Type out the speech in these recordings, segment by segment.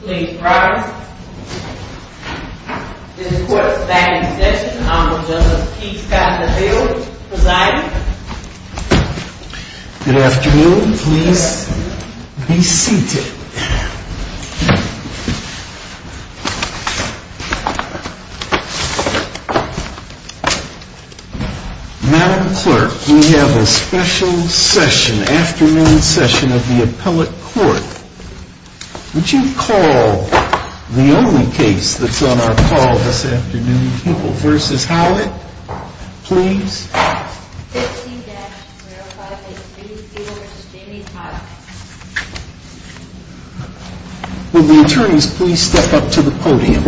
Please rise. This court is now in session. Honorable Justice Keith Scott Neville presiding. Good afternoon. Please be seated. Madam Clerk, we have a special session, afternoon session of the appellate court. Would you call the only case that's on our call this afternoon, People v. Hauad, please. Will the attorneys please step up to the podium.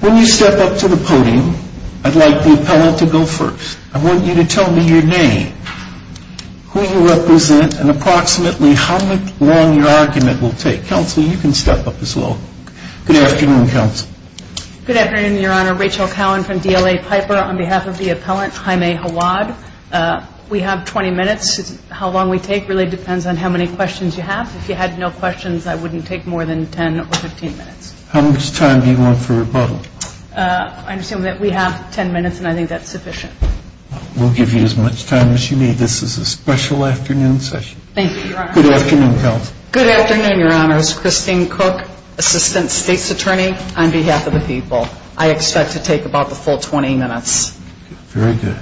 When you step up to the podium, I'd like the appellate to go first. I want you to tell me your name, who you represent, and approximately how long your argument will take. Counsel, you can step up as well. Good afternoon, counsel. Good afternoon, Your Honor. Rachel Cowen from DLA Piper on behalf of the appellant, Jaime Hauad. We have 20 minutes. How long we take really depends on how many questions you have. If you had no questions, I wouldn't take more than 10 or 15 minutes. How much time do you want for rebuttal? I assume that we have 10 minutes, and I think that's sufficient. We'll give you as much time as you need. This is a special afternoon session. Thank you, Your Honor. Good afternoon, counsel. Good afternoon, Your Honor. It's Christine Cook, Assistant State's Attorney on behalf of the People. I expect to take about the full 20 minutes. Very good.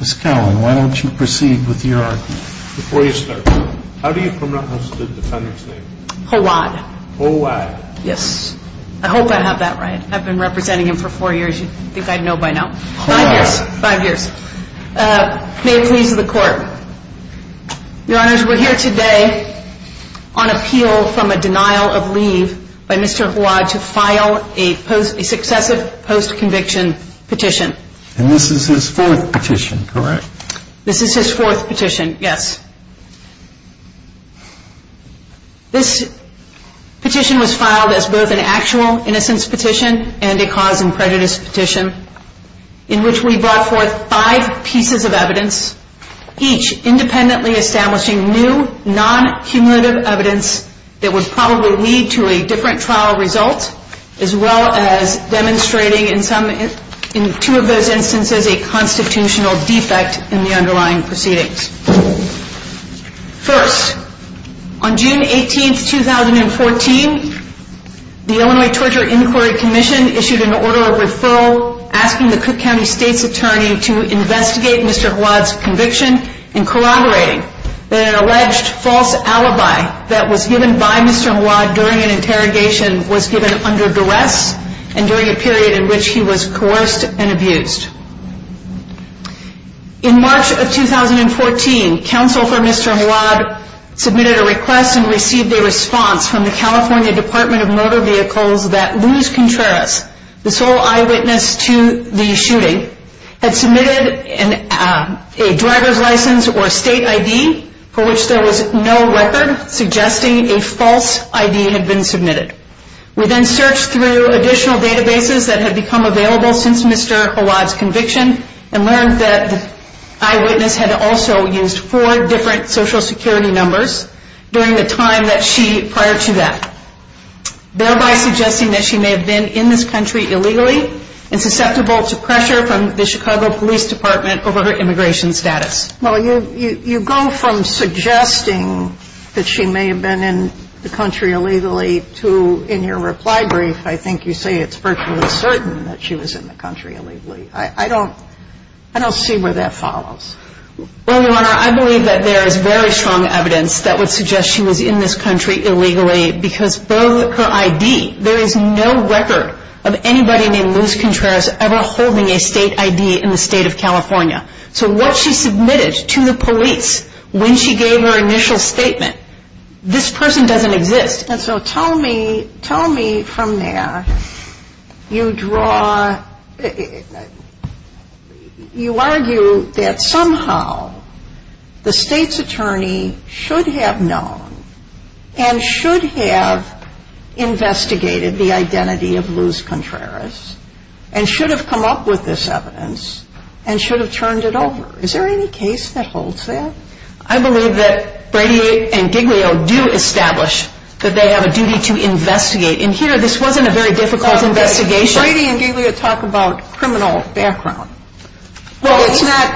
Ms. Cowen, why don't you proceed with your argument. Before you start, how do you pronounce the defendant's name? Hauad. Hauad. Yes. I hope I have that right. I've been representing him for four years. You'd think I'd know by now. Hauad. Five years. Five years. May it please the Court. Your Honors, we're here today on appeal from a denial of leave by Mr. Hauad to file a successive post-conviction petition. And this is his fourth petition, correct? This is his fourth petition, yes. This petition was filed as both an actual innocence petition and a cause and prejudice petition in which we brought forth five pieces of evidence, each independently establishing new, non-cumulative evidence that would probably lead to a different trial result, as well as demonstrating in two of those instances a constitutional defect in the underlying proceedings. First, on June 18, 2014, the Illinois Torture Inquiry Commission issued an order of referral asking the Cook County State's Attorney to investigate Mr. Hauad's conviction in corroborating that an alleged false alibi that was given by Mr. Hauad during an interrogation was given under duress and during a period in which he was coerced and abused. In March of 2014, counsel for Mr. Hauad submitted a request and received a response from the California Department of Motor Vehicles that Luis Contreras, the sole eyewitness to the shooting, had submitted a driver's license or state ID for which there was no record suggesting a false ID had been submitted. We then searched through additional databases that had become available since Mr. Hauad's conviction and learned that the eyewitness had also used four different Social Security numbers during the time that she, prior to that, thereby suggesting that she may have been in this country illegally and susceptible to pressure from the Chicago Police Department over her immigration status. Well, you go from suggesting that she may have been in the country illegally to, in your reply brief, I think you say it's virtually certain that she was in the country illegally. I don't see where that follows. Well, Your Honor, I believe that there is very strong evidence that would suggest she was in this country illegally because of her ID. There is no record of anybody named Luis Contreras ever holding a state ID in the state of California. So what she submitted to the police when she gave her initial statement, this person doesn't exist. And so tell me, tell me from there, you draw, you argue that somehow the state's attorney should have known and should have investigated the identity of Luis Contreras and should have come up with this evidence and should have turned it over. Is there any case that holds that? I believe that Brady and Giglio do establish that they have a duty to investigate. And here, this wasn't a very difficult investigation. But Brady and Giglio talk about criminal background. Well,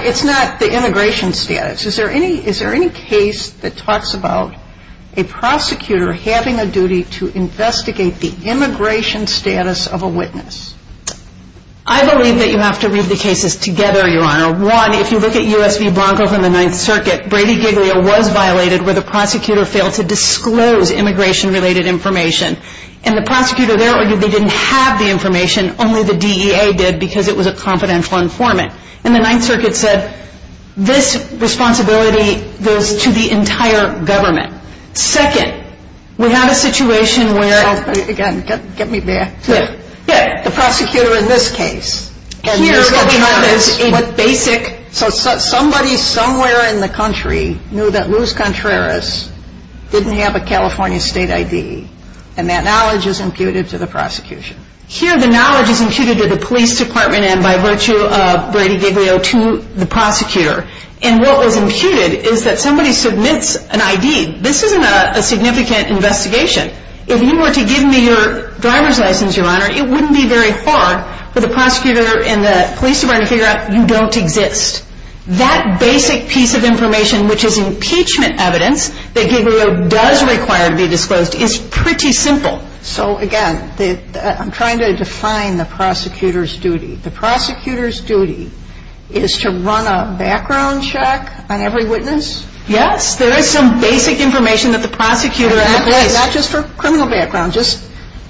it's not the immigration status. Is there any case that talks about a prosecutor having a duty to investigate the immigration status of a witness? I believe that you have to read the cases together, Your Honor. One, if you look at U.S. v. Blanco from the Ninth Circuit, Brady-Giglio was violated where the prosecutor failed to disclose immigration-related information. And the prosecutor there argued they didn't have the information, only the DEA did, because it was a confidential informant. And the Ninth Circuit said this responsibility goes to the entire government. Second, we have a situation where... Again, get me back. The prosecutor in this case. Here, what we have is what basic... So somebody somewhere in the country knew that Luis Contreras didn't have a California state ID, and that knowledge is imputed to the prosecution. Here, the knowledge is imputed to the police department and, by virtue of Brady-Giglio, to the prosecutor. And what was imputed is that somebody submits an ID. This isn't a significant investigation. If you were to give me your driver's license, Your Honor, it wouldn't be very hard for the prosecutor and the police department to figure out you don't exist. That basic piece of information, which is impeachment evidence, that Giglio does require to be disclosed, is pretty simple. So, again, I'm trying to define the prosecutor's duty. The prosecutor's duty is to run a background check on every witness? Yes, there is some basic information that the prosecutor... Not just for criminal background. Just,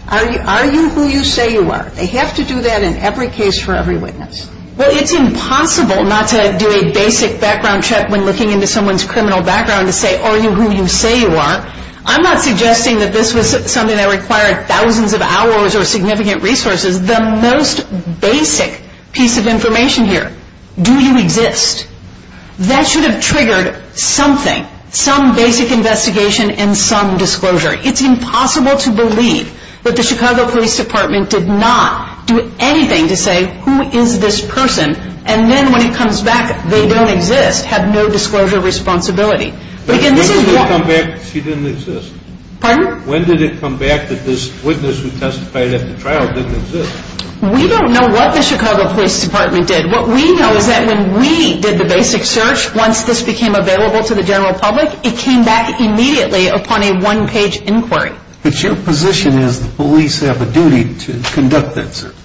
are you who you say you are? They have to do that in every case for every witness. Well, it's impossible not to do a basic background check when looking into someone's criminal background to say, are you who you say you are? I'm not suggesting that this was something that required thousands of hours or significant resources. The most basic piece of information here, do you exist? That should have triggered something, some basic investigation and some disclosure. It's impossible to believe that the Chicago Police Department did not do anything to say, who is this person? And then when it comes back, they don't exist, have no disclosure responsibility. When did it come back that she didn't exist? Pardon? When did it come back that this witness who testified at the trial didn't exist? We don't know what the Chicago Police Department did. What we know is that when we did the basic search, once this became available to the general public, it came back immediately upon a one-page inquiry. But your position is the police have a duty to conduct that search.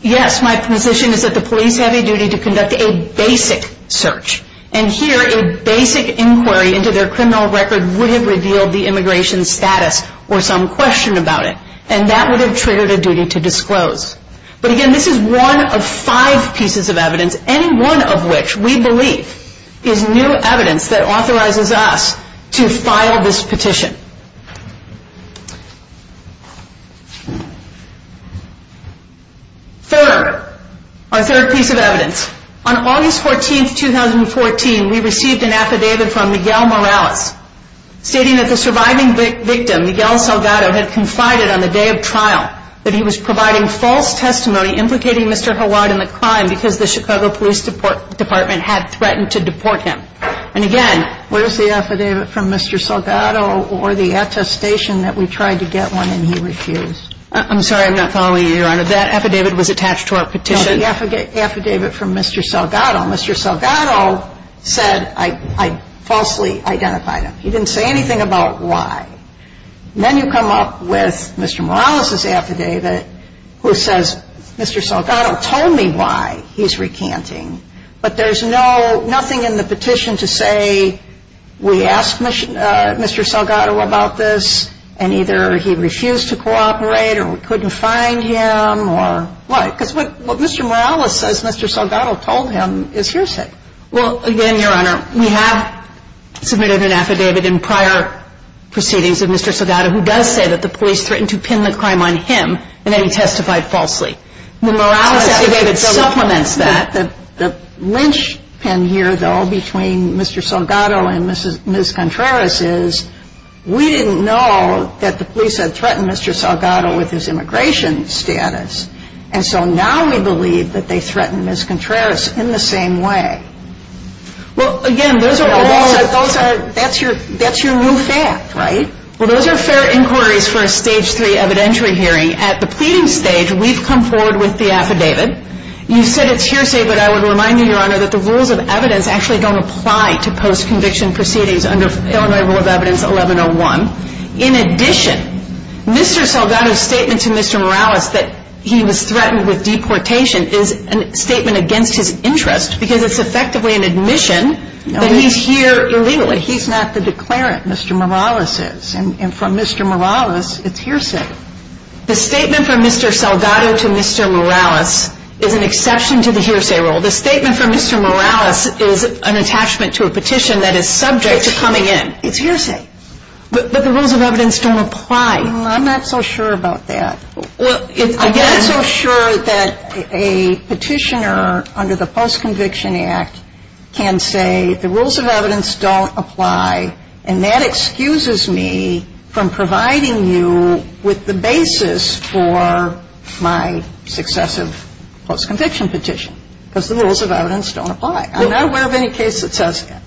Yes, my position is that the police have a duty to conduct a basic search. And here, a basic inquiry into their criminal record would have revealed the immigration status or some question about it. And that would have triggered a duty to disclose. But again, this is one of five pieces of evidence, any one of which we believe is new evidence that authorizes us to file this petition. Third, our third piece of evidence. On August 14, 2014, we received an affidavit from Miguel Morales stating that the surviving victim, Miguel Salgado, had confided on the day of trial that he was providing false testimony implicating Mr. Hawad in the crime because the Chicago Police Department had threatened to deport him. And again, where's the affidavit from Mr. Salgado or the attestation that we tried to get one and he refused? I'm sorry, I'm not following you, Your Honor. That affidavit was attached to our petition. The affidavit from Mr. Salgado. Mr. Salgado said, I falsely identified him. He didn't say anything about why. Then you come up with Mr. Morales' affidavit who says, Mr. Salgado told me why he's recanting. But there's nothing in the petition to say we asked Mr. Salgado about this and either he refused to cooperate or we couldn't find him or what. Because what Mr. Morales says Mr. Salgado told him is hearsay. Well, again, Your Honor, we have submitted an affidavit in prior proceedings of Mr. Salgado who does say that the police threatened to pin the crime on him and that he testified falsely. The Morales affidavit supplements that. The linchpin here, though, between Mr. Salgado and Ms. Contreras is we didn't know that the police had threatened Mr. Salgado with his immigration status. And so now we believe that they threatened Ms. Contreras in the same way. Well, again, that's your new fact, right? Well, those are fair inquiries for a Stage 3 evidentiary hearing. At the pleading stage, we've come forward with the affidavit. You said it's hearsay, but I would remind you, Your Honor, that the rules of evidence actually don't apply to post-conviction proceedings under Illinois Rule of Evidence 1101. In addition, Mr. Salgado's statement to Mr. Morales that he was threatened with deportation is a statement against his interest because it's effectively an admission that he's here illegally. He's not the declarant. Mr. Morales is. And from Mr. Morales, it's hearsay. The statement from Mr. Salgado to Mr. Morales is an exception to the hearsay rule. The statement from Mr. Morales is an attachment to a petition that is subject to coming in. It's hearsay. But the rules of evidence don't apply. I'm not so sure about that. I'm not so sure that a petitioner under the Post-Conviction Act can say the rules of evidence don't apply, and that excuses me from providing you with the basis for my successive post-conviction petition because the rules of evidence don't apply. I'm not aware of any case that says that.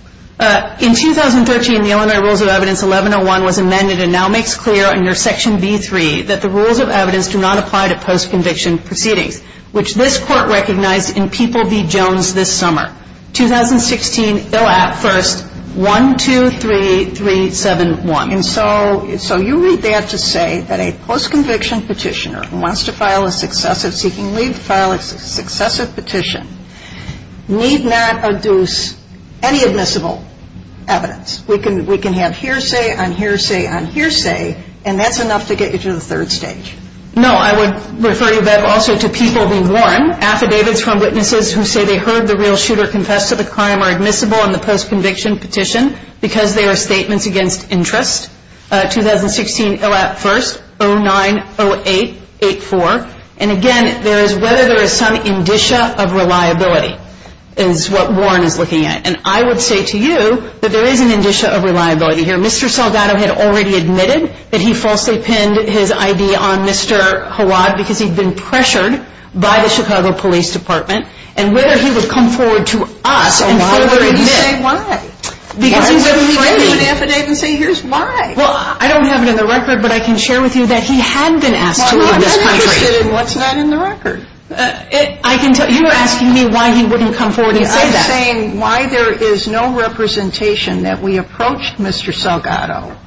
In 2013, the Illinois Rules of Evidence 1101 was amended and now makes clear under Section B3 that the rules of evidence do not apply to post-conviction proceedings, which this Court recognized in People v. Jones this summer. 2016, they'll add first, 1, 2, 3, 3, 7, 1. And so you read that to say that a post-conviction petitioner who wants to file a successive seeking leave to file a successive petition need not adduce any admissible evidence. We can have hearsay on hearsay on hearsay, and that's enough to get you to the third stage. No, I would refer you, Bev, also to People v. Warren, affidavits from witnesses who say they heard the real shooter confess to the crime are admissible in the post-conviction petition because they are statements against interest. 2016, they'll add first, 090884. And again, there is whether there is some indicia of reliability is what Warren is looking at. And I would say to you that there is an indicia of reliability here. Mr. Salgado had already admitted that he falsely pinned his ID on Mr. Hawad because he'd been pressured by the Chicago Police Department, and whether he would come forward to us and further admit. Well, I don't have it in the record, but I can share with you that he had been asked to in this country. Well, I'm not interested in what's not in the record. You're asking me why he wouldn't come forward and say that. I'm saying why there is no representation that we approached Mr. Salgado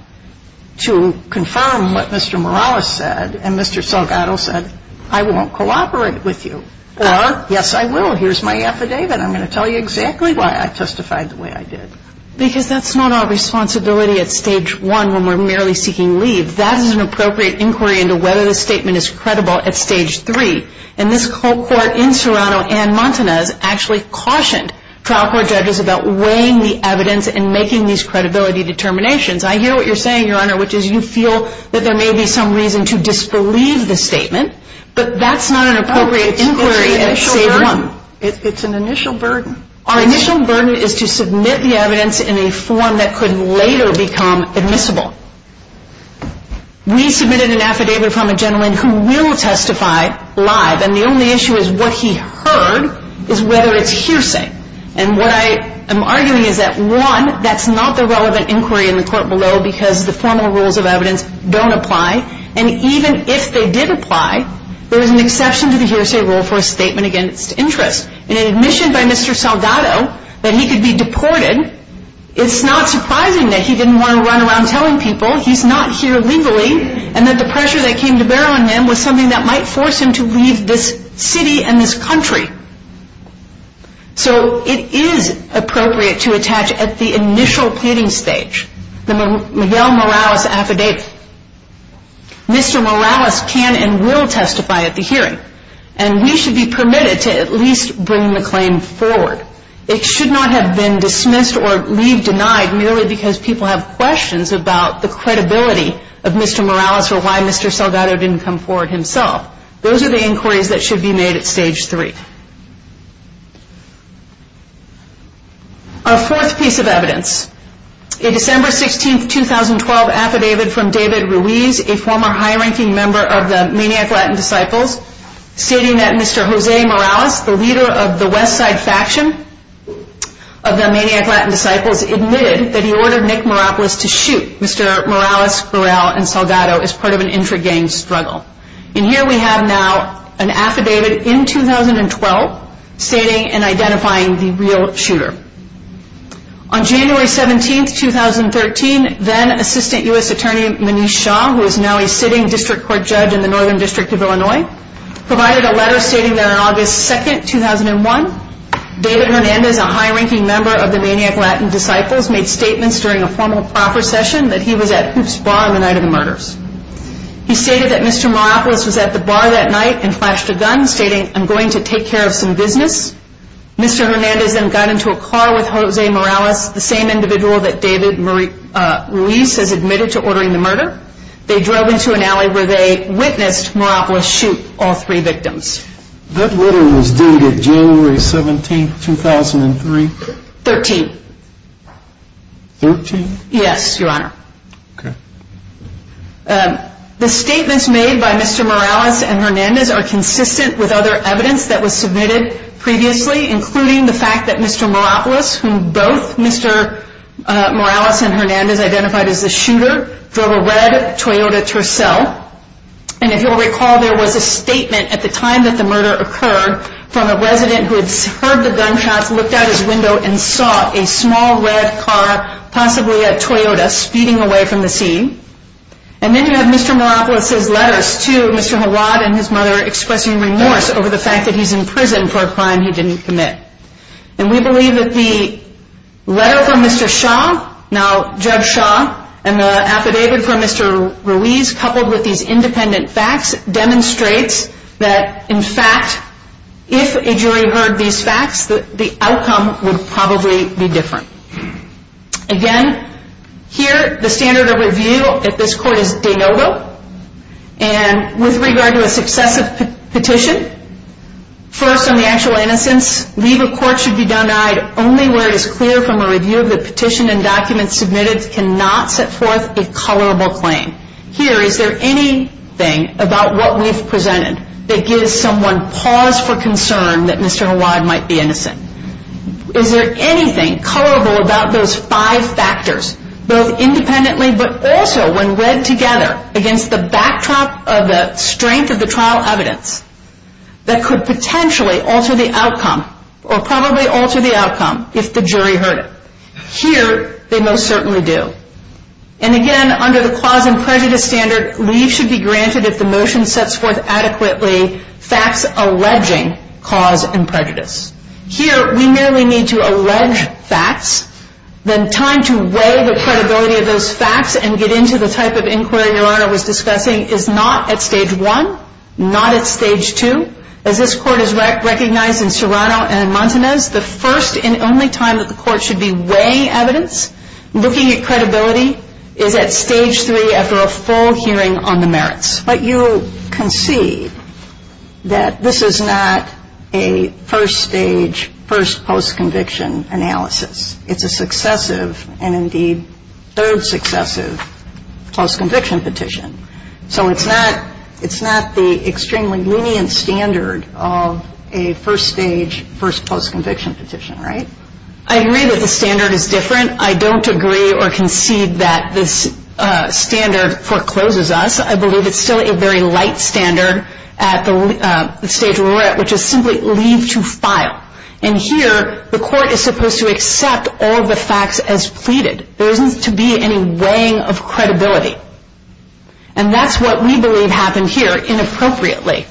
to confirm what Mr. Morales said, and Mr. Salgado said, I won't cooperate with you. Or, yes, I will. Here's my affidavit. I'm going to tell you exactly why I testified the way I did. Because that's not our responsibility at Stage 1 when we're merely seeking leave. That is an appropriate inquiry into whether the statement is credible at Stage 3. And this court in Toronto, Ann Montanez, actually cautioned trial court judges about weighing the evidence and making these credibility determinations. I hear what you're saying, Your Honor, which is you feel that there may be some reason to disbelieve the statement, but that's not an appropriate inquiry at Stage 1. It's an initial burden. Our initial burden is to submit the evidence in a form that could later become admissible. We submitted an affidavit from a gentleman who will testify live, and the only issue is what he heard is whether it's hearsay. And what I am arguing is that, one, that's not the relevant inquiry in the court below because the formal rules of evidence don't apply. And even if they did apply, there is an exception to the hearsay rule for a statement against interest. In an admission by Mr. Salgado that he could be deported, it's not surprising that he didn't want to run around telling people he's not here legally and that the pressure that came to bear on him was something that might force him to leave this city and this country. So it is appropriate to attach at the initial pleading stage the Miguel Morales affidavit. Mr. Morales can and will testify at the hearing, and we should be permitted to at least bring the claim forward. It should not have been dismissed or leave denied merely because people have questions about the credibility of Mr. Morales or why Mr. Salgado didn't come forward himself. Those are the inquiries that should be made at Stage 3. Our fourth piece of evidence. A December 16, 2012 affidavit from David Ruiz, a former high-ranking member of the Maniac Latin Disciples, stating that Mr. Jose Morales, the leader of the West Side faction of the Maniac Latin Disciples, admitted that he ordered Nick Moropoulos to shoot Mr. Morales, Burrell, and Salgado as part of an intra-gang struggle. And here we have now an affidavit in 2012 stating and identifying the real shooter. On January 17, 2013, then Assistant U.S. Attorney Manish Shah, who is now a sitting district court judge in the Northern District of Illinois, provided a letter stating that on August 2, 2001, David Hernandez, a high-ranking member of the Maniac Latin Disciples, made statements during a formal proffer session that he was at Hoops Bar on the night of the murders. He stated that Mr. Moropoulos was at the bar that night and flashed a gun, stating, I'm going to take care of some business. Mr. Hernandez then got into a car with Jose Morales, the same individual that David Ruiz has admitted to ordering the murder. They drove into an alley where they witnessed Moropoulos shoot all three victims. That letter was dated January 17, 2003? Thirteen. Thirteen? Yes, Your Honor. Okay. The statements made by Mr. Morales and Hernandez are consistent with other evidence that was submitted previously, including the fact that Mr. Moropoulos, whom both Mr. Morales and Hernandez identified as the shooter, drove a red Toyota Tercel. And if you'll recall, there was a statement at the time that the murder occurred from a resident who had heard the gunshots, looked out his window, and saw a small red car, possibly a Toyota, speeding away from the scene. And then you have Mr. Moropoulos' letters to Mr. Hawat and his mother expressing remorse over the fact that he's in prison for a crime he didn't commit. And we believe that the letter from Mr. Shaw, now Judge Shaw, and the affidavit from Mr. Ruiz coupled with these independent facts demonstrates that, in fact, if a jury heard these facts, the outcome would probably be different. Again, here the standard of review at this court is de novo. And with regard to a successive petition, first on the actual innocence, leave of court should be done only where it is clear from a review that the petition and documents submitted cannot set forth a colorable claim. Here, is there anything about what we've presented that gives someone pause for concern that Mr. Hawat might be innocent? Is there anything colorable about those five factors, both independently but also when read together against the backdrop of the strength of the trial evidence, that could potentially alter the outcome, or probably alter the outcome, if the jury heard it? Here, they most certainly do. And again, under the clause in prejudice standard, leave should be granted if the motion sets forth adequately facts alleging cause and prejudice. Here, we merely need to allege facts. Then time to weigh the credibility of those facts and get into the type of inquiry Your Honor was discussing is not at Stage 1, not at Stage 2. As this court has recognized in Serrano and in Montanez, the first and only time that the court should be weighing evidence, looking at credibility is at Stage 3 after a full hearing on the merits. But you concede that this is not a first stage, first post-conviction analysis. It's a successive, and indeed third successive, post-conviction petition. So it's not the extremely lenient standard of a first stage, first post-conviction petition, right? I agree that the standard is different. I don't agree or concede that this standard forecloses us. I believe it's still a very light standard at the stage we're at, which is simply leave to file. And here, the court is supposed to accept all of the facts as pleaded. There isn't to be any weighing of credibility. And that's what we believe happened here inappropriately.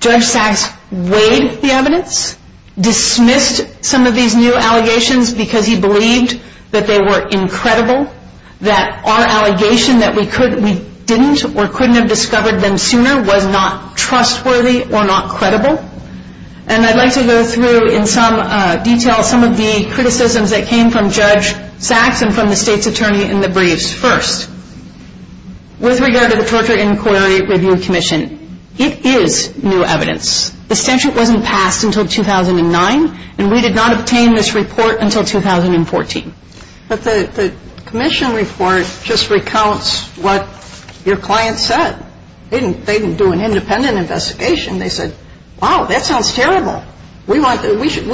Judge Sachs weighed the evidence, dismissed some of these new allegations because he believed that they were incredible, that our allegation that we didn't or couldn't have discovered them sooner was not trustworthy or not credible. And I'd like to go through, in some detail, some of the criticisms that came from Judge Sachs and from the state's attorney in the briefs first. With regard to the Torture Inquiry Review Commission, it is new evidence. The statute wasn't passed until 2009, and we did not obtain this report until 2014. But the commission report just recounts what your client said. They didn't do an independent investigation. They said, wow, that sounds terrible. We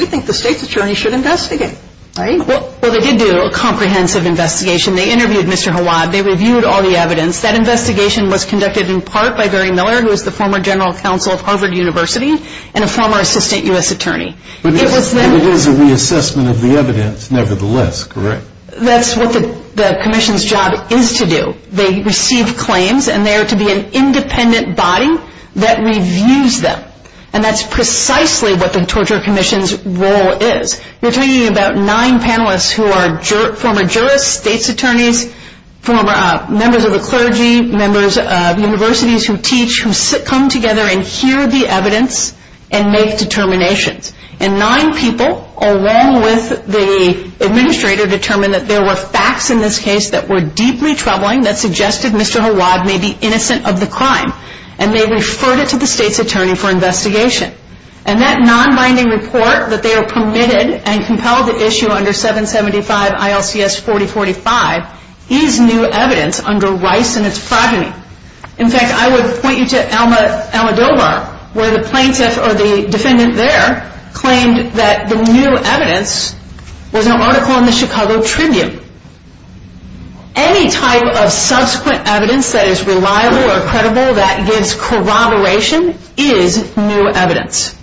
think the state's attorney should investigate, right? Well, they did do a comprehensive investigation. They interviewed Mr. Hawad. They reviewed all the evidence. That investigation was conducted in part by Barry Miller, who is the former general counsel of Harvard University and a former assistant U.S. attorney. But it is a reassessment of the evidence nevertheless, correct? That's what the commission's job is to do. They receive claims, and they are to be an independent body that reviews them. And that's precisely what the Torture Commission's role is. We're talking about nine panelists who are former jurists, state's attorneys, former members of the clergy, members of universities who teach, who come together and hear the evidence and make determinations. And nine people, along with the administrator, determined that there were facts in this case that were deeply troubling that suggested Mr. Hawad may be innocent of the crime. And that nonbinding report that they were permitted and compelled to issue under 775 ILCS 4045 is new evidence under Rice and its progeny. In fact, I would point you to Alma Dobar, where the plaintiff or the defendant there claimed that the new evidence was an article in the Chicago Tribune. Any type of subsequent evidence that is reliable or credible that gives corroboration is new evidence.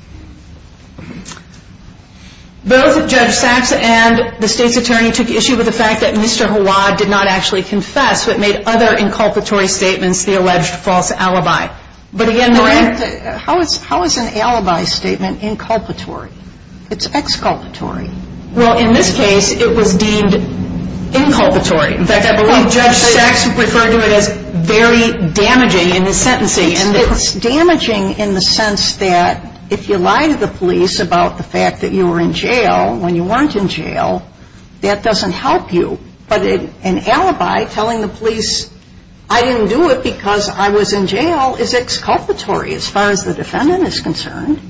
Both Judge Sachs and the state's attorney took issue with the fact that Mr. Hawad did not actually confess, so it made other inculpatory statements the alleged false alibi. But again, there weren't... How is an alibi statement inculpatory? It's exculpatory. Well, in this case, it was deemed inculpatory. In fact, I believe Judge Sachs referred to it as very damaging in his sentencing. It's damaging in the sense that if you lie to the police about the fact that you were in jail when you weren't in jail, that doesn't help you. But an alibi telling the police I didn't do it because I was in jail is exculpatory as far as the defendant is concerned.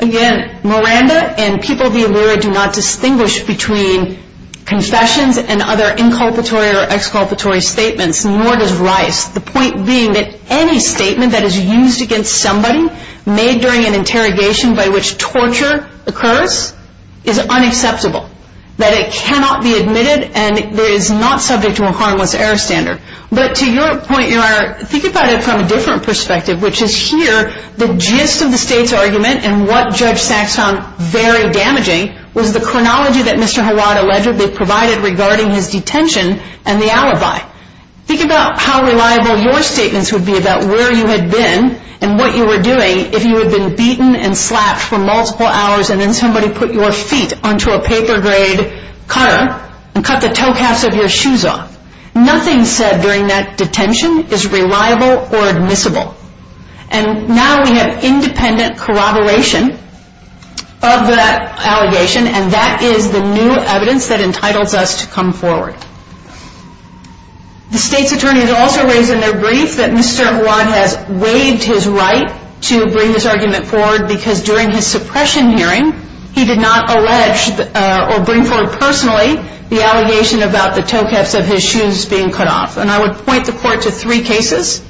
Again, Miranda and People v. Lurie do not distinguish between confessions and other inculpatory or exculpatory statements, nor does Rice. The point being that any statement that is used against somebody made during an interrogation by which torture occurs is unacceptable, that it cannot be admitted, and it is not subject to a harmless error standard. But to your point, Your Honor, think about it from a different perspective, which is here the gist of the state's argument and what Judge Sachs found very damaging was the chronology that Mr. Hawad allegedly provided regarding his detention and the alibi. Think about how reliable your statements would be about where you had been and what you were doing if you had been beaten and slapped for multiple hours and then somebody put your feet onto a paper grade cutter and cut the toe caps of your shoes off. Nothing said during that detention is reliable or admissible. And now we have independent corroboration of that allegation and that is the new evidence that entitles us to come forward. The state's attorney has also raised in their brief that Mr. Hawad has waived his right to bring this argument forward because during his suppression hearing, he did not allege or bring forward personally the allegation about the toe caps of his shoes being cut off. And I would point the court to three cases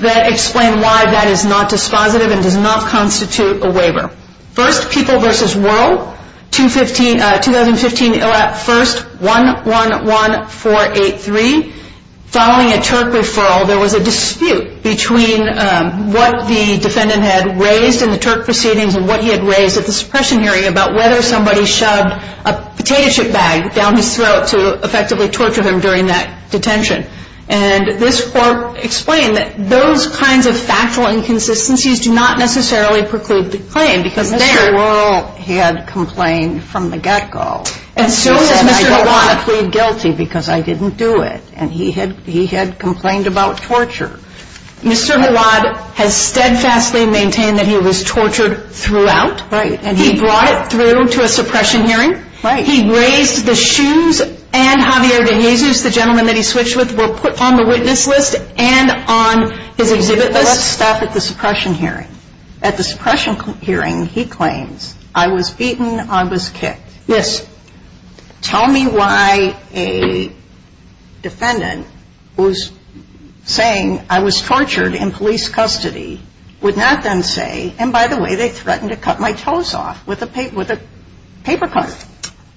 that explain why that is not dispositive and does not constitute a waiver. First, People v. Wuerl, 2015 1-1-1-4-8-3. Following a Turk referral, there was a dispute between what the defendant had raised in the Turk proceedings and what he had raised at the suppression hearing about whether somebody shoved a potato chip bag down his throat to effectively torture him during that detention. And this court explained that those kinds of factual inconsistencies do not necessarily preclude the claim. Because Mr. Wuerl had complained from the get-go. And so has Mr. Hawad. He said, I don't want to plead guilty because I didn't do it. And he had complained about torture. Mr. Hawad has steadfastly maintained that he was tortured throughout. Right. And he brought it through to a suppression hearing. Right. He raised the shoes and Javier De Jesus, the gentleman that he switched with, were put on the witness list and on his exhibit list. Let's stop at the suppression hearing. At the suppression hearing, he claims, I was beaten, I was kicked. Yes. Tell me why a defendant who's saying I was tortured in police custody would not then say, and by the way, they threatened to cut my toes off with a paper cutter.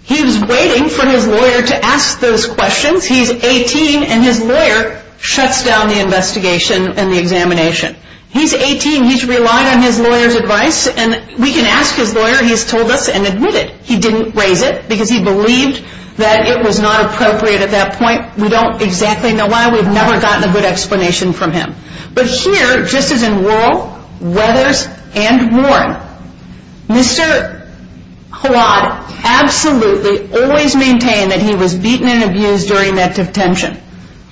He was waiting for his lawyer to ask those questions. He's 18, and his lawyer shuts down the investigation and the examination. He's 18. He's relying on his lawyer's advice. And we can ask his lawyer. He's told us and admitted he didn't raise it because he believed that it was not appropriate at that point. We don't exactly know why. We've never gotten a good explanation from him. But here, just as in Wuerl, Weathers, and Warren, Mr. Hawad absolutely always maintained that he was beaten and abused during that detention.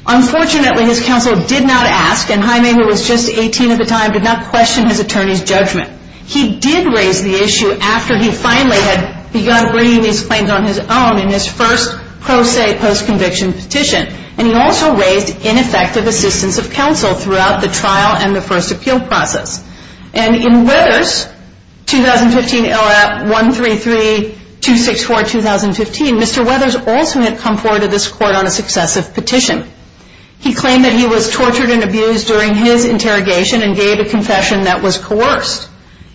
Unfortunately, his counsel did not ask, and Jaime, who was just 18 at the time, did not question his attorney's judgment. He did raise the issue after he finally had begun bringing these claims on his own in his first pro se post-conviction petition. And he also raised ineffective assistance of counsel throughout the trial and the first appeal process. And in Weathers, 2015 LAP 133-264-2015, Mr. Weathers also had come forward to this court on a successive petition. He claimed that he was tortured and abused during his interrogation and gave a confession that was coerced.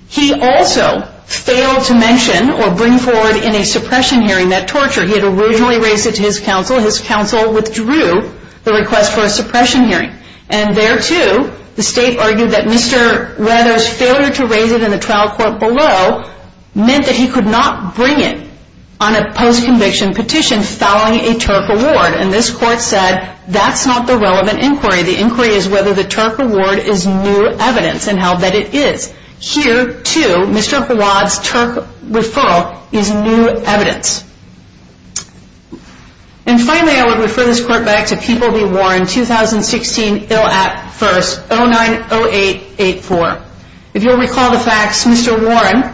He also failed to mention or bring forward in a suppression hearing that torture. He had originally raised it to his counsel. His counsel withdrew the request for a suppression hearing. And there, too, the state argued that Mr. Weathers' failure to raise it in the trial court below meant that he could not bring it on a post-conviction petition following a TURC award. And this court said, that's not the relevant inquiry. The inquiry is whether the TURC award is new evidence and how bad it is. Here, too, Mr. Howard's TURC referral is new evidence. And finally, I would refer this court back to People v. Warren, 2016 ILAP 1st, 090884. If you'll recall the facts, Mr. Warren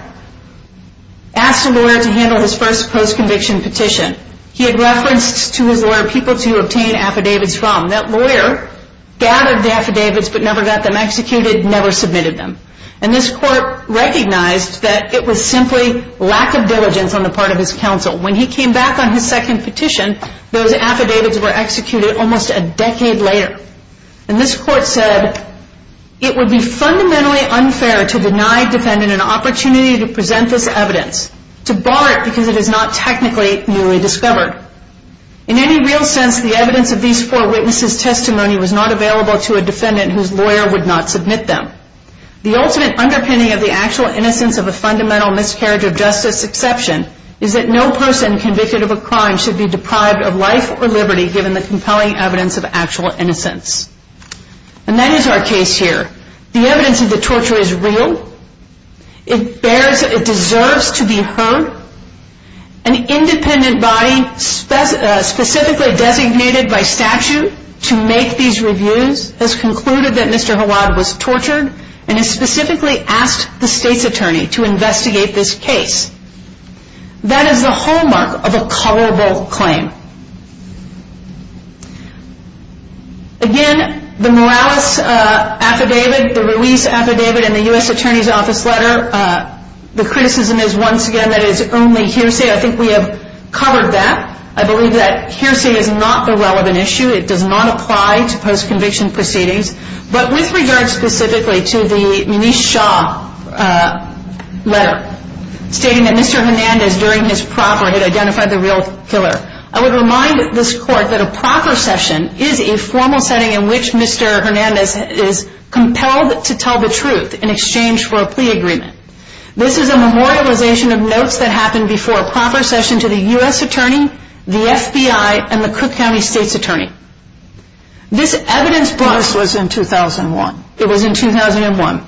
asked a lawyer to handle his first post-conviction petition. He had referenced to his lawyer people to obtain affidavits from. That lawyer gathered the affidavits but never got them executed, never submitted them. And this court recognized that it was simply lack of diligence on the part of his counsel. When he came back on his second petition, those affidavits were executed almost a decade later. And this court said, it would be fundamentally unfair to deny defendant an opportunity to present this evidence, to bar it because it is not technically newly discovered. In any real sense, the evidence of these four witnesses' testimony was not available to a defendant whose lawyer would not submit them. The ultimate underpinning of the actual innocence of a fundamental miscarriage of justice exception is that no person convicted of a crime should be deprived of life or liberty given the compelling evidence of actual innocence. And that is our case here. The evidence of the torture is real. It deserves to be heard. An independent body specifically designated by statute to make these reviews has concluded that Mr. Hawad was tortured and has specifically asked the state's attorney to investigate this case. That is the hallmark of a coverable claim. Again, the Morales affidavit, the Ruiz affidavit, and the U.S. Attorney's Office letter, the criticism is once again that it is only hearsay. I think we have covered that. I believe that hearsay is not the relevant issue. It does not apply to post-conviction proceedings. But with regard specifically to the Manish Shah letter, stating that Mr. Hernandez during his proper had identified the real killer, I would remind this Court that a proper session is a formal setting in which Mr. Hernandez is compelled to tell the truth in exchange for a plea agreement. This is a memorialization of notes that happened before a proper session to the U.S. Attorney, the FBI, and the Cook County State's Attorney. This was in 2001. It was in 2001.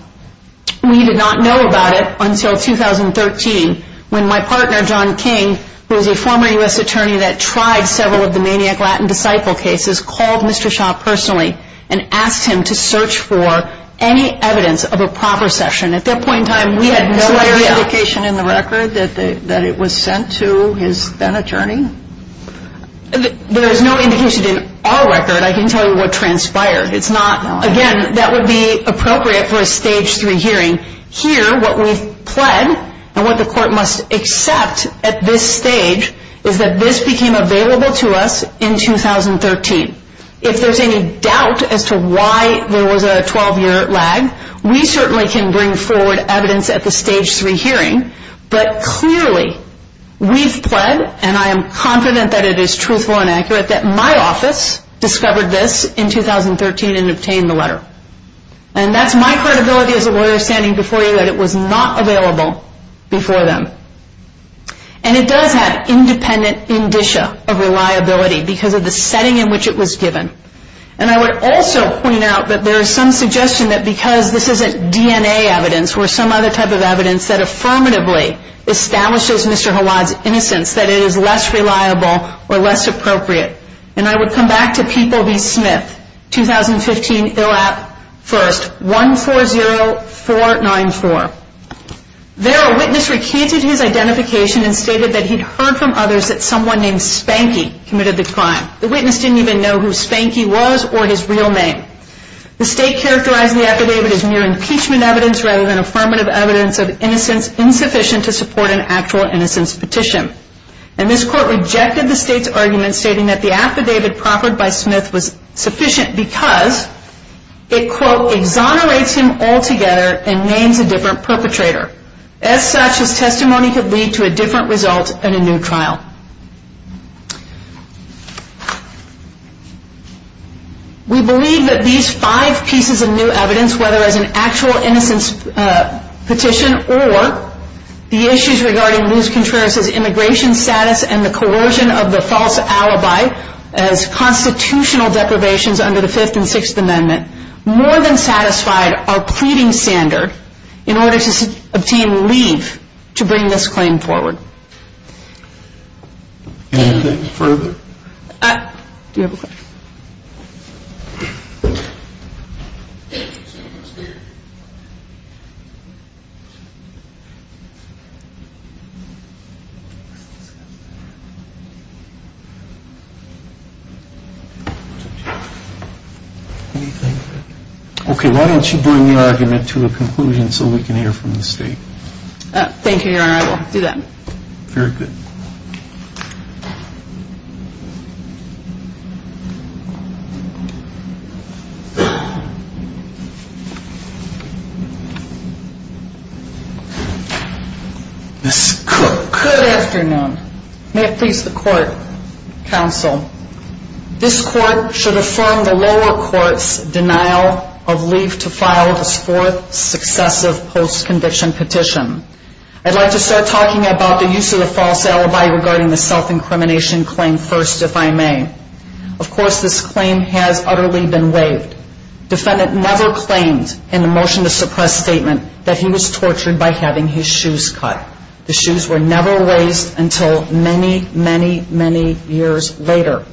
We did not know about it until 2013 when my partner John King, who is a former U.S. Attorney that tried several of the Maniac Latin Disciple cases, called Mr. Shah personally and asked him to search for any evidence of a proper session. At that point in time, we had no idea. Is there any indication in the record that it was sent to his then-attorney? There is no indication in our record. I can tell you what transpired. Again, that would be appropriate for a Stage 3 hearing. Here, what we've pled and what the Court must accept at this stage is that this became available to us in 2013. If there's any doubt as to why there was a 12-year lag, we certainly can bring forward evidence at the Stage 3 hearing, but clearly we've pled, and I am confident that it is truthful and accurate, that my office discovered this in 2013 and obtained the letter. That's my credibility as a lawyer standing before you that it was not available before them. It does have independent indicia of reliability because of the setting in which it was given. I would also point out that there is some suggestion that because this isn't DNA evidence or some other type of evidence that affirmatively establishes Mr. Hawad's innocence, that it is less reliable or less appropriate. I would come back to People v. Smith, 2015, ILAP 1st, 140494. There, a witness recanted his identification and stated that he'd heard from others that someone named Spanky committed the crime. The witness didn't even know who Spanky was or his real name. The state characterized the affidavit as mere impeachment evidence rather than affirmative evidence of innocence insufficient to support an actual innocence petition. And this court rejected the state's argument stating that the affidavit proffered by Smith was sufficient because it, quote, exonerates him altogether and names a different perpetrator. As such, his testimony could lead to a different result in a new trial. We believe that these five pieces of new evidence, whether as an actual innocence petition or the issues regarding Luz Contreras' immigration status and the coercion of the false alibi as constitutional deprivations under the Fifth and Sixth Amendment, more than satisfied our pleading standard in order to obtain leave to bring this claim forward. Anything further? Do you have a question? Anything? Okay, why don't you bring the argument to a conclusion so we can hear from the state. Thank you, Your Honor. I will do that. Very good. Ms. Cook. Good afternoon. May it please the court, counsel, This court should affirm the lower court's denial of leave to file this fourth successive post-conviction petition. I'd like to start talking about the use of the false alibi regarding the self-incrimination claim first, if I may. Of course, this claim has utterly been waived. Defendant never claimed in the motion to suppress statement that he was tortured by having his shoes cut. The shoes were never raised until many, many, many years later.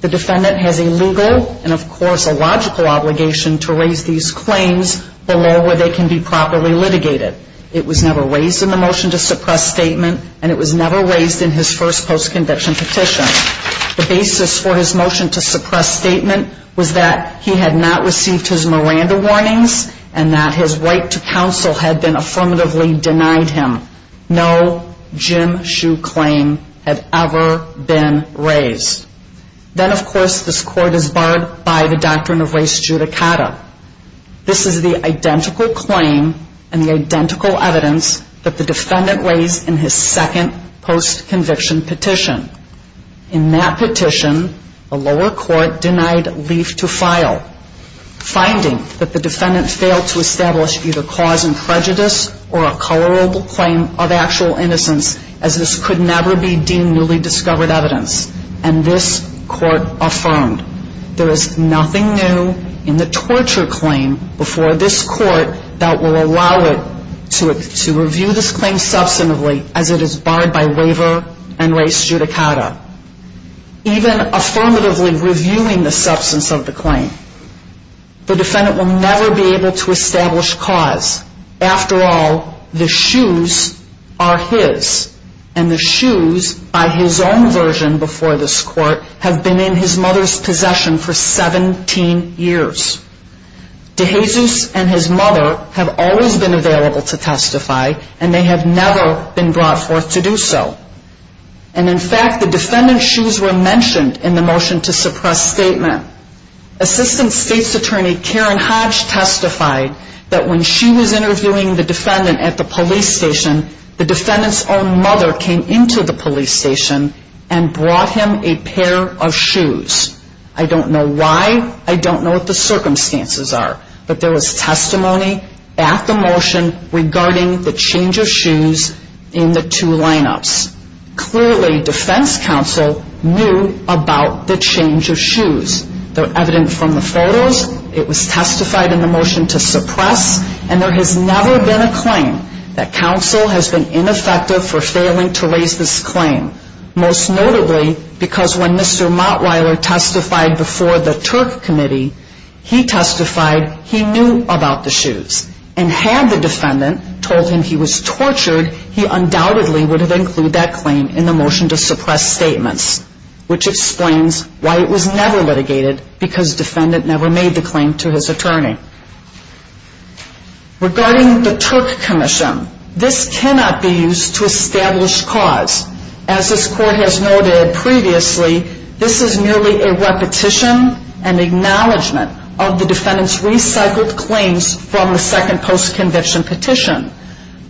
The defendant has a legal and, of course, a logical obligation to raise these claims below where they can be properly litigated. It was never raised in the motion to suppress statement and it was never raised in his first post-conviction petition. The basis for his motion to suppress statement was that he had not received his Miranda warnings and that his right to counsel had been affirmatively denied him. No Jim Shue claim had ever been raised. Then, of course, this court is barred by the doctrine of res judicata. This is the identical claim and the identical evidence that the defendant raised in his second post-conviction petition. In that petition, the lower court denied leave to file, finding that the defendant failed to establish either cause in prejudice or a colorable claim of actual innocence, as this could never be deemed newly discovered evidence. And this court affirmed, there is nothing new in the torture claim before this court that will allow it to review this claim substantively as it is barred by waiver and res judicata. Even affirmatively reviewing the substance of the claim, the defendant will never be able to establish cause. After all, the shoes are his and the shoes, by his own version before this court, have been in his mother's possession for 17 years. DeJesus and his mother have always been available to testify and they have never been brought forth to do so. And in fact, the defendant's shoes were mentioned in the motion to suppress statement. Assistant State's Attorney Karen Hodge testified that when she was interviewing the defendant at the police station, the defendant's own mother came into the police station and brought him a pair of shoes. I don't know why. I don't know what the circumstances are. But there was testimony at the motion regarding the change of shoes in the two lineups. Clearly, defense counsel knew about the change of shoes. They're evident from the photos. It was testified in the motion to suppress. And there has never been a claim that counsel has been ineffective for failing to raise this claim. Most notably, because when Mr. Mottweiler testified before the Turk Committee, he testified he knew about the shoes. And had the defendant told him he was tortured, he undoubtedly would have included that claim in the motion to suppress statements, which explains why it was never litigated because the defendant never made the claim to his attorney. Regarding the Turk Commission, this cannot be used to establish cause. As this court has noted previously, this is merely a repetition and acknowledgement of the defendant's recycled claims from the second post-conviction petition.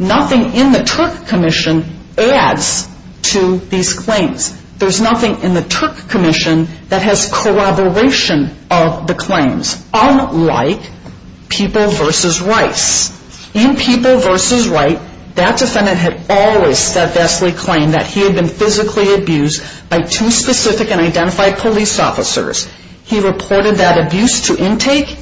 Nothing in the Turk Commission adds to these claims. There's nothing in the Turk Commission that has corroboration of the claims, unlike People v. Rice. In People v. Rice, that defendant had always steadfastly claimed that he had been physically abused by two specific and identified police officers. He reported that abuse to intake.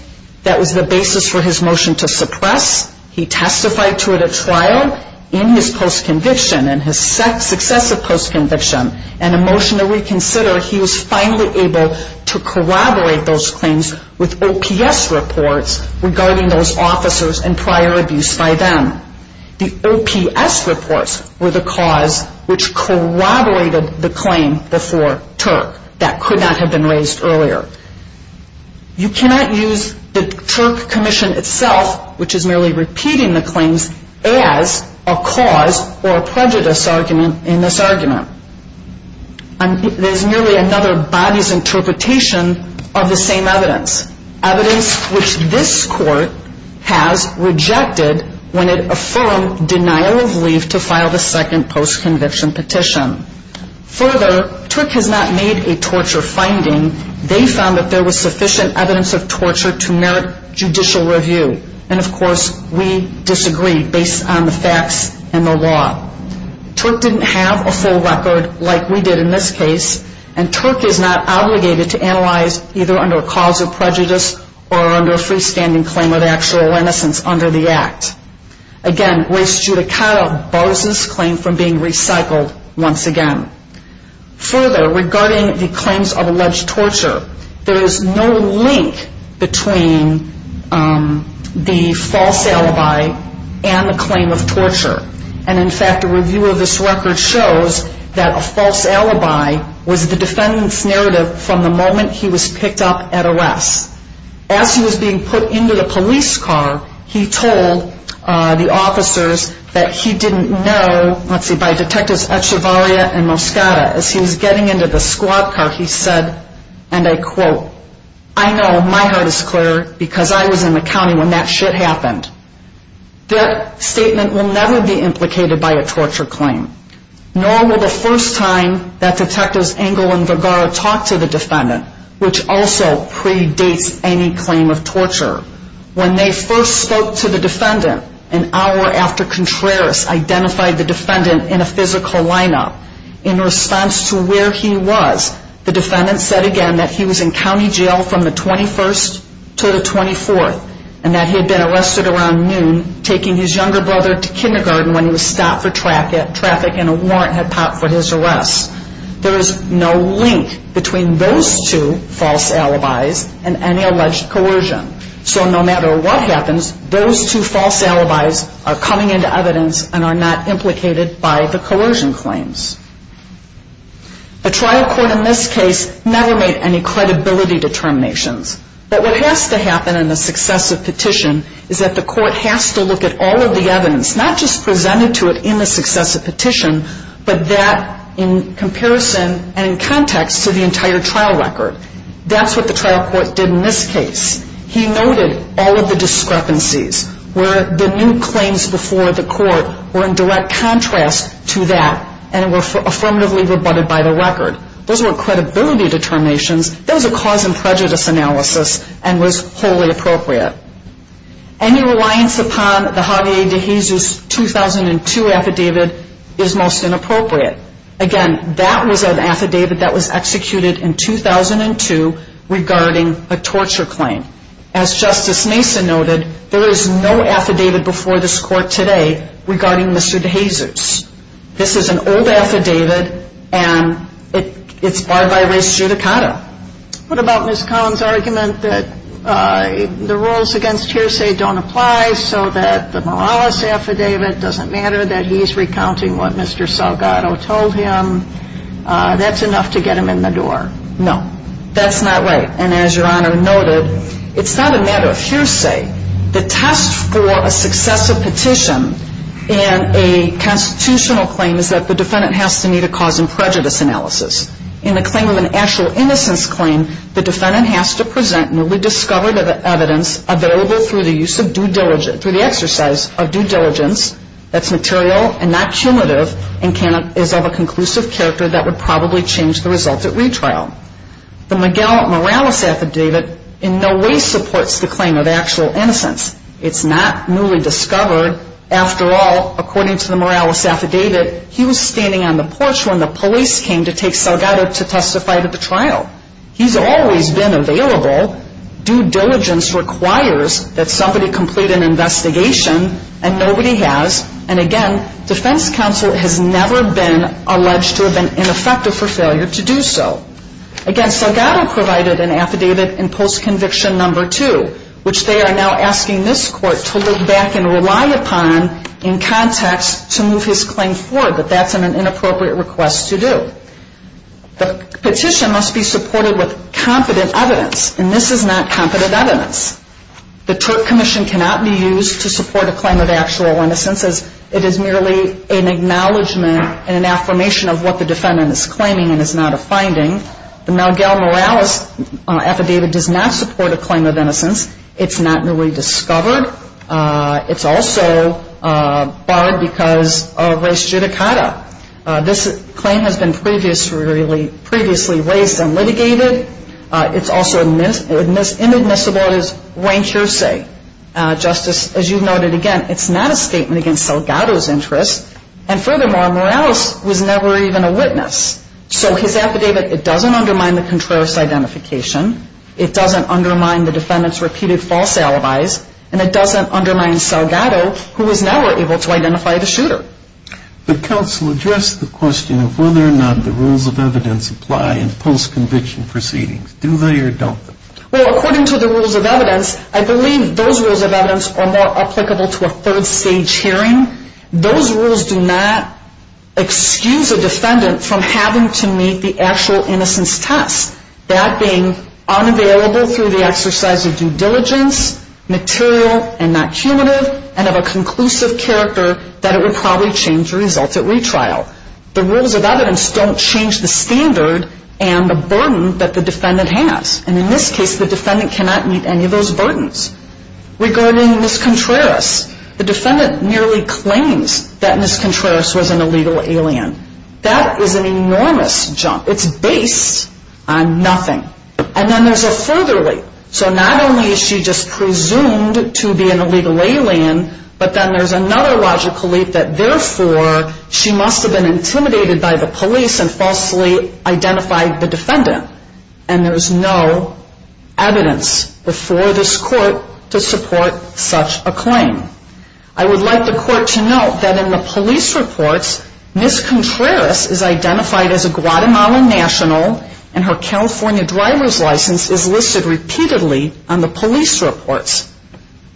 That was the basis for his motion to suppress. He testified to it at trial in his post-conviction and his successive post-conviction. And in the motion to reconsider, he was finally able to corroborate those claims with OPS reports regarding those officers and prior abuse by them. The OPS reports were the cause which corroborated the claim before Turk. That could not have been raised earlier. You cannot use the Turk Commission itself, which is merely repeating the claims, as a cause or a prejudice argument in this argument. There's merely another body's interpretation of the same evidence, evidence which this court has rejected when it affirmed denial of leave to file the second post-conviction petition. Further, Turk has not made a torture finding. They found that there was sufficient evidence of torture to merit judicial review. And, of course, we disagreed based on the facts and the law. Turk didn't have a full record like we did in this case. And Turk is not obligated to analyze either under a cause of prejudice or under a freestanding claim of actual innocence under the Act. Again, res judicata bars this claim from being recycled once again. Further, regarding the claims of alleged torture, there is no link between the false alibi and the claim of torture. And, in fact, a review of this record shows that a false alibi was the defendant's narrative from the moment he was picked up at arrest. As he was being put into the police car, he told the officers that he didn't know, let's see, by Detectives Echevarria and Moscata, as he was getting into the squad car, he said, and I quote, I know my heart is clear because I was in the county when that shit happened. That statement will never be implicated by a torture claim, nor will the first time that Detectives Engel and Vergara talk to the defendant, which also predates any claim of torture. When they first spoke to the defendant, an hour after Contreras identified the defendant in a physical lineup, in response to where he was, the defendant said again that he was in county jail from the 21st to the 24th, and that he had been arrested around noon, taking his younger brother to kindergarten when he was stopped for traffic and a warrant had popped for his arrest. There is no link between those two false alibis and any alleged coercion. So no matter what happens, those two false alibis are coming into evidence and are not implicated by the coercion claims. A trial court in this case never made any credibility determinations, but what has to happen in a successive petition is that the court has to look at all of the evidence, not just presented to it in the successive petition, but that in comparison and in context to the entire trial record. That's what the trial court did in this case. He noted all of the discrepancies where the new claims before the court were in direct contrast to that and were affirmatively rebutted by the record. Those weren't credibility determinations. That was a cause and prejudice analysis and was wholly appropriate. Any reliance upon the Javier De Jesus 2002 affidavit is most inappropriate. Again, that was an affidavit that was executed in 2002 regarding a torture claim. As Justice Mason noted, there is no affidavit before this court today regarding Mr. De Jesus. This is an old affidavit, and it's barred by race judicata. What about Ms. Collins' argument that the rules against hearsay don't apply so that the Morales affidavit doesn't matter, that he's recounting what Mr. Salgado told him, that's enough to get him in the door? No, that's not right. And as Your Honor noted, it's not a matter of hearsay. The test for a successive petition in a constitutional claim is that the defendant has to meet a cause and prejudice analysis. In the claim of an actual innocence claim, the defendant has to present newly discovered evidence available through the exercise of due diligence that's material and not cumulative and is of a conclusive character that would probably change the result at retrial. The Miguel Morales affidavit in no way supports the claim of actual innocence. It's not newly discovered. After all, according to the Morales affidavit, he was standing on the porch when the police came to take Salgado to testify to the trial. He's always been available. Due diligence requires that somebody complete an investigation, and nobody has. And again, defense counsel has never been alleged to have been ineffective for failure to do so. Again, Salgado provided an affidavit in Post-Conviction No. 2, which they are now asking this Court to look back and rely upon in context to move his claim forward, but that's an inappropriate request to do. The petition must be supported with competent evidence, and this is not competent evidence. The commission cannot be used to support a claim of actual innocence as it is merely an acknowledgment and an affirmation of what the defendant is claiming and is not a finding. The Miguel Morales affidavit does not support a claim of innocence. It's not newly discovered. It's also barred because of res judicata. This claim has been previously raised and litigated. It's also inadmissible. It is reintrusive. Justice, as you noted again, it's not a statement against Salgado's interests, and furthermore, Morales was never even a witness. So his affidavit, it doesn't undermine the contrarious identification. It doesn't undermine the defendant's repeated false alibis, and it doesn't undermine Salgado, who was never able to identify the shooter. The counsel addressed the question of whether or not the rules of evidence apply in post-conviction proceedings. Do they or don't they? Well, according to the rules of evidence, I believe those rules of evidence are more applicable to a third stage hearing. Those rules do not excuse a defendant from having to meet the actual innocence test, that being unavailable through the exercise of due diligence, material and not cumulative, and of a conclusive character that it would probably change the results at retrial. The rules of evidence don't change the standard and the burden that the defendant has. And in this case, the defendant cannot meet any of those burdens. Regarding Ms. Contreras, the defendant merely claims that Ms. Contreras was an illegal alien. That is an enormous jump. It's based on nothing. And then there's a further leap. So not only is she just presumed to be an illegal alien, but then there's another logical leap that, therefore, she must have been intimidated by the police and falsely identified the defendant. And there's no evidence before this court to support such a claim. I would like the court to note that in the police reports, Ms. Contreras is identified as a Guatemalan national and her California driver's license is listed repeatedly on the police reports.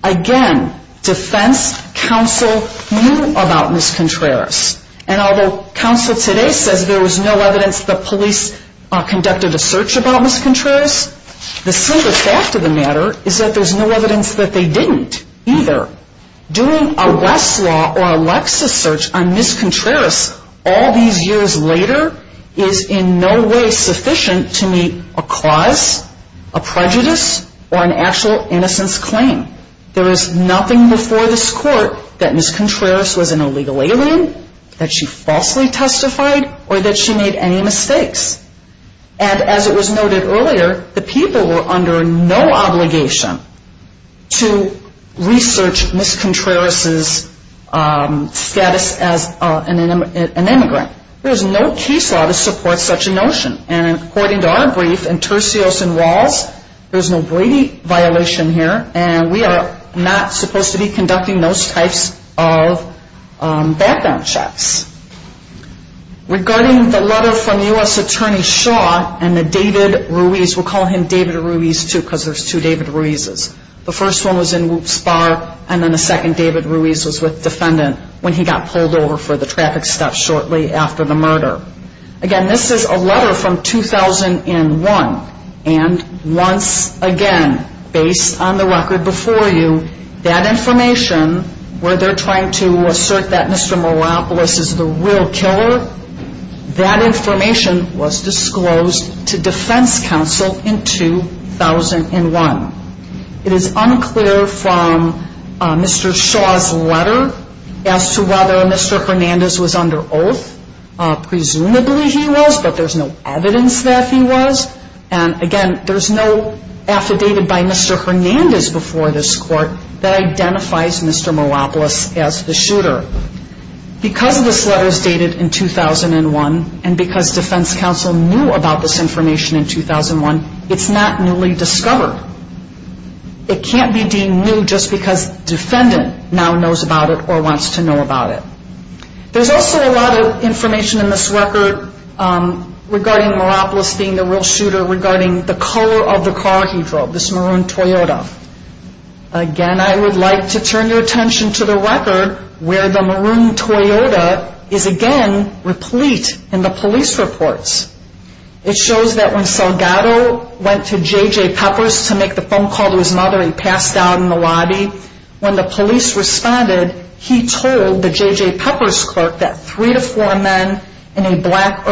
Again, defense counsel knew about Ms. Contreras. And although counsel today says there was no evidence the police conducted a search about Ms. Contreras, the simple fact of the matter is that there's no evidence that they didn't either. Doing a Westlaw or a Lexis search on Ms. Contreras all these years later is in no way sufficient to meet a cause, a prejudice, or an actual innocence claim. There is nothing before this court that Ms. Contreras was an illegal alien, that she falsely testified, or that she made any mistakes. And as it was noted earlier, the people were under no obligation to research Ms. Contreras' status as an immigrant. There is no case law to support such a notion. And according to our brief in Tercios and Rawls, there's no Brady violation here, and we are not supposed to be conducting those types of background checks. Regarding the letter from U.S. Attorney Shaw and the David Ruiz, we'll call him David Ruiz too because there's two David Ruizes. The first one was in Woops Bar, and then the second David Ruiz was with defendant when he got pulled over for the traffic stop shortly after the murder. Again, this is a letter from 2001, and once again, based on the record before you, that information where they're trying to assert that Mr. Moropoulos is the real killer, that information was disclosed to defense counsel in 2001. It is unclear from Mr. Shaw's letter as to whether Mr. Hernandez was under oath, presumably he was, but there's no evidence that he was. And again, there's no affidavit by Mr. Hernandez before this court that identifies Mr. Moropoulos as the shooter. Because this letter is dated in 2001, and because defense counsel knew about this information in 2001, it's not newly discovered. It can't be deemed new just because the defendant now knows about it or wants to know about it. There's also a lot of information in this record regarding Moropoulos being the real shooter, regarding the color of the car he drove, this maroon Toyota. Again, I would like to turn your attention to the record where the maroon Toyota is again replete in the police reports. It shows that when Salgado went to J.J. Peppers to make the phone call to his mother, he passed out in the lobby. When the police responded, he told the J.J. Peppers clerk that three to four men in a black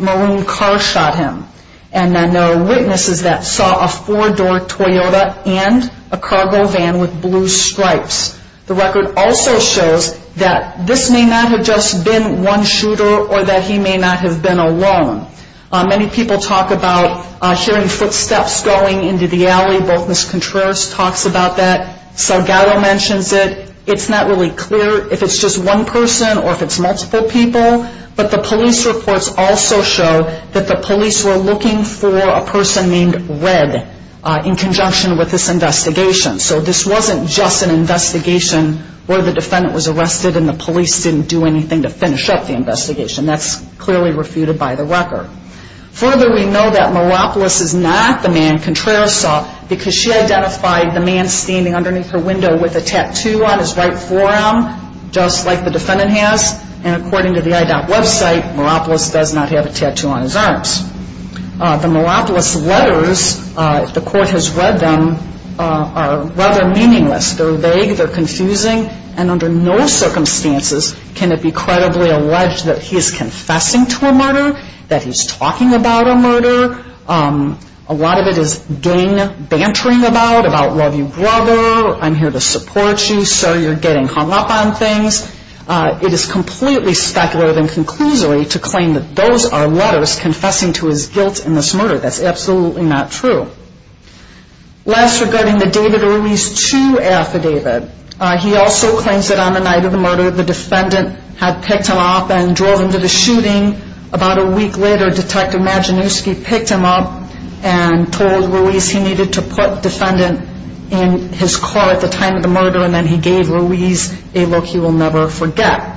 maroon car shot him. And then there are witnesses that saw a four-door Toyota and a cargo van with blue stripes. The record also shows that this may not have just been one shooter or that he may not have been alone. Many people talk about hearing footsteps going into the alley. Both Ms. Contreras talks about that. Salgado mentions it. It's not really clear if it's just one person or if it's multiple people, but the police reports also show that the police were looking for a person named Red in conjunction with this investigation. So this wasn't just an investigation where the defendant was arrested and the police didn't do anything to finish up the investigation. That's clearly refuted by the record. Further, we know that Meropolis is not the man Contreras saw because she identified the man standing underneath her window with a tattoo on his right forearm, just like the defendant has. And according to the IDOT website, Meropolis does not have a tattoo on his arms. The Meropolis letters, if the court has read them, are rather meaningless. They're vague. They're confusing. And under no circumstances can it be credibly alleged that he is confessing to a murder, that he's talking about a murder. A lot of it is gang bantering about, about love you brother, I'm here to support you, sir, you're getting hung up on things. It is completely speculative and conclusory to claim that those are letters confessing to his guilt in this murder. That's absolutely not true. Last, regarding the David Ruiz 2 affidavit. He also claims that on the night of the murder, the defendant had picked him up and drove him to the shooting. About a week later, Detective Maginuski picked him up and told Ruiz he needed to put the defendant in his car at the time of the murder, and then he gave Ruiz a look he will never forget.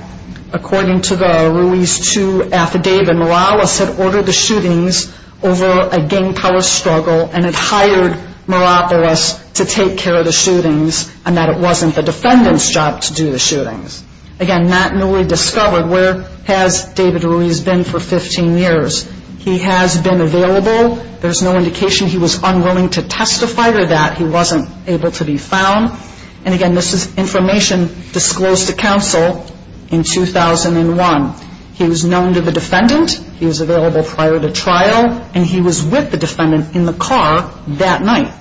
According to the Ruiz 2 affidavit, Morales had ordered the shootings over a gang power struggle and had hired Morales to take care of the shootings and that it wasn't the defendant's job to do the shootings. Again, not newly discovered, where has David Ruiz been for 15 years? He has been available. There's no indication he was unwilling to testify to that. He wasn't able to be found. And again, this is information disclosed to counsel in 2001. He was known to the defendant. He was available prior to trial, and he was with the defendant in the car that night.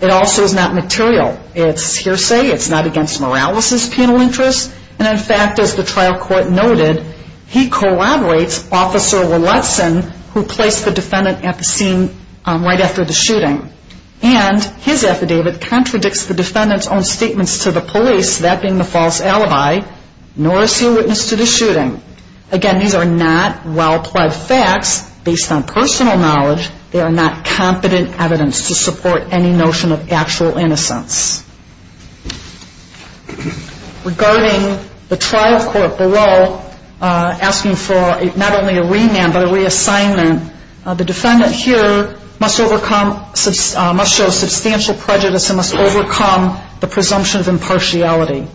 It also is not material. It's hearsay. It's not against Morales' penal interests. And in fact, as the trial court noted, he collaborates Officer Lutzen, who placed the defendant at the scene right after the shooting. And his affidavit contradicts the defendant's own statements to the police, that being the false alibi, nor is he a witness to the shooting. Again, these are not well-pled facts. Based on personal knowledge, they are not competent evidence to support any notion of actual innocence. Regarding the trial court below asking for not only a remand but a reassignment, the defendant here must show substantial prejudice and must overcome the presumption of impartiality.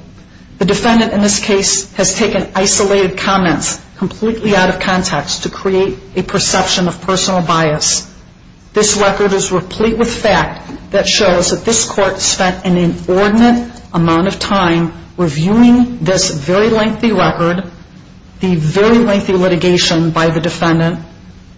The defendant in this case has taken isolated comments completely out of context to create a perception of personal bias. This record is replete with fact that shows that this court spent an inordinate amount of time reviewing this very lengthy record, the very lengthy litigation by the defendant,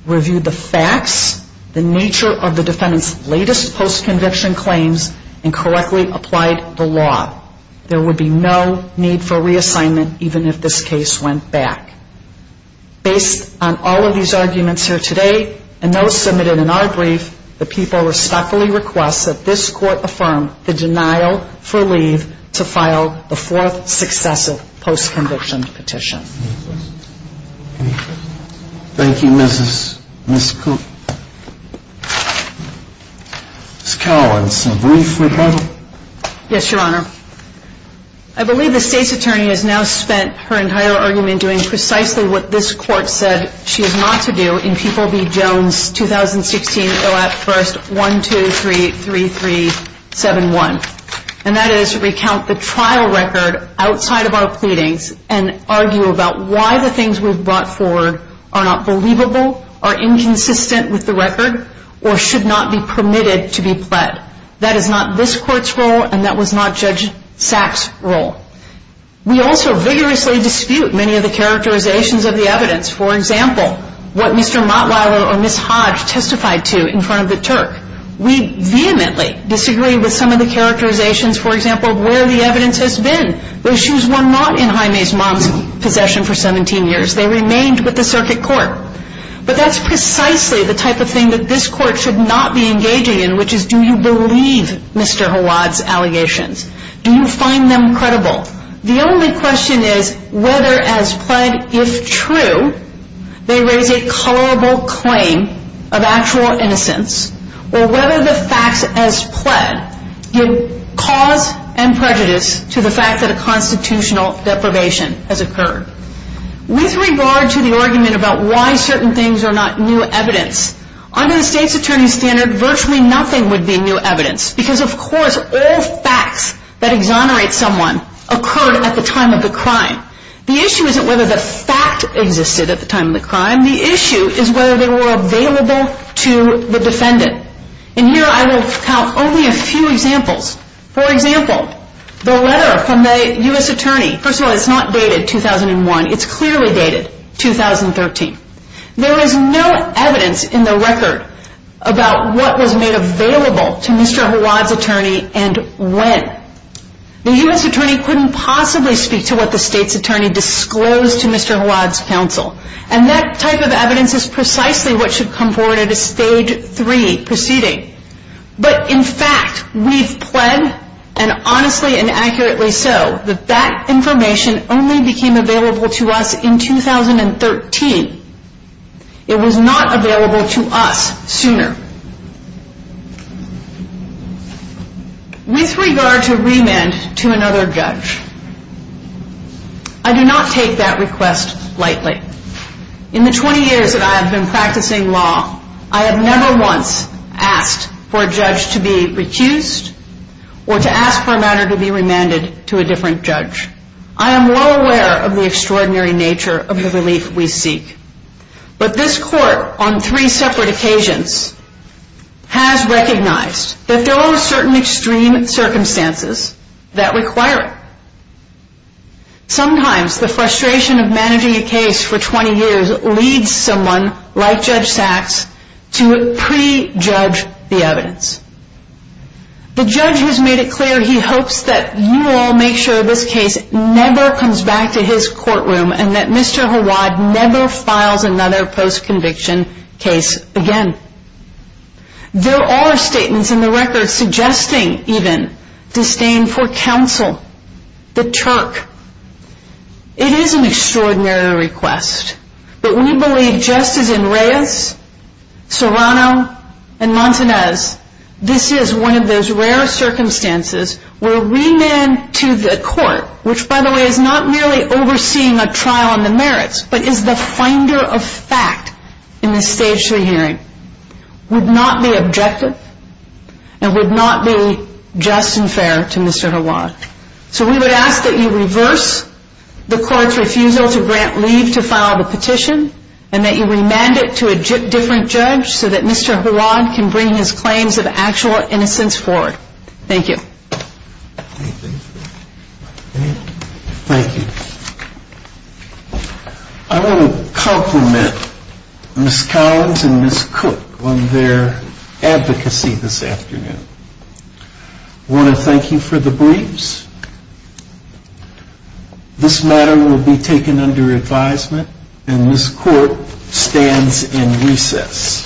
reviewed the facts, the nature of the defendant's latest post-conviction claims, and correctly applied the law. There would be no need for reassignment even if this case went back. Based on all of these arguments here today and those submitted in our brief, the people respectfully request that this court affirm the denial for leave to file the fourth successive post-conviction petition. Any questions? Thank you, Ms. Cooke. Ms. Cowan, some brief rebuttal? Yes, Your Honor. I believe the State's Attorney has now spent her entire argument doing precisely what this court said she is not to do in People v. Jones, 2016, ILAP 1-123-3371, and that is recount the trial record outside of our pleadings and argue about why the things we've brought forward are not believable, are inconsistent with the record, or should not be permitted to be pled. That is not this court's role, and that was not Judge Sack's role. We also vigorously dispute many of the characterizations of the evidence. For example, what Mr. Mottweiler or Ms. Hodge testified to in front of the Turk. We vehemently disagree with some of the characterizations, for example, where the evidence has been. Those shoes were not in Jaime's mom's possession for 17 years. They remained with the circuit court. But that's precisely the type of thing that this court should not be engaging in, which is do you believe Mr. Hawad's allegations? Do you find them credible? The only question is whether as pled, if true, they raise a colorable claim of actual innocence, or whether the facts as pled give cause and prejudice to the fact that a constitutional deprivation has occurred. With regard to the argument about why certain things are not new evidence, under the state's attorney standard, virtually nothing would be new evidence, because of course all facts that exonerate someone occurred at the time of the crime. The issue isn't whether the fact existed at the time of the crime. The issue is whether they were available to the defendant. And here I will count only a few examples. For example, the letter from the U.S. attorney. First of all, it's not dated 2001. It's clearly dated 2013. There is no evidence in the record about what was made available to Mr. Hawad's attorney and when. The U.S. attorney couldn't possibly speak to what the state's attorney disclosed to Mr. Hawad's counsel. And that type of evidence is precisely what should come forward at a stage three proceeding. But in fact, we've pled, and honestly and accurately so, that that information only became available to us in 2013. It was not available to us sooner. With regard to remand to another judge, I do not take that request lightly. In the 20 years that I have been practicing law, I have never once asked for a judge to be recused or to ask for a matter to be remanded to a different judge. I am well aware of the extraordinary nature of the relief we seek. But this court, on three separate occasions, has recognized that there are certain extreme circumstances that require it. Sometimes the frustration of managing a case for 20 years leads someone like Judge Sachs to pre-judge the evidence. The judge has made it clear he hopes that you all make sure this case never comes back to his courtroom and that Mr. Hawad never files another post-conviction case again. There are statements in the record suggesting even disdain for counsel, the Turk. It is an extraordinary request. But we believe, just as in Reyes, Serrano, and Montanez, this is one of those rare circumstances where remand to the court, which by the way is not merely overseeing a trial on the merits, but is the finder of fact in this stage of the hearing, would not be objective and would not be just and fair to Mr. Hawad. So we would ask that you reverse the court's refusal to grant leave to file the petition and that you remand it to a different judge so that Mr. Hawad can bring his claims of actual innocence forward. Thank you. Thank you. I want to compliment Ms. Collins and Ms. Cook on their advocacy this afternoon. I want to thank you for the briefs. This matter will be taken under advisement and this court stands in recess. Thank you.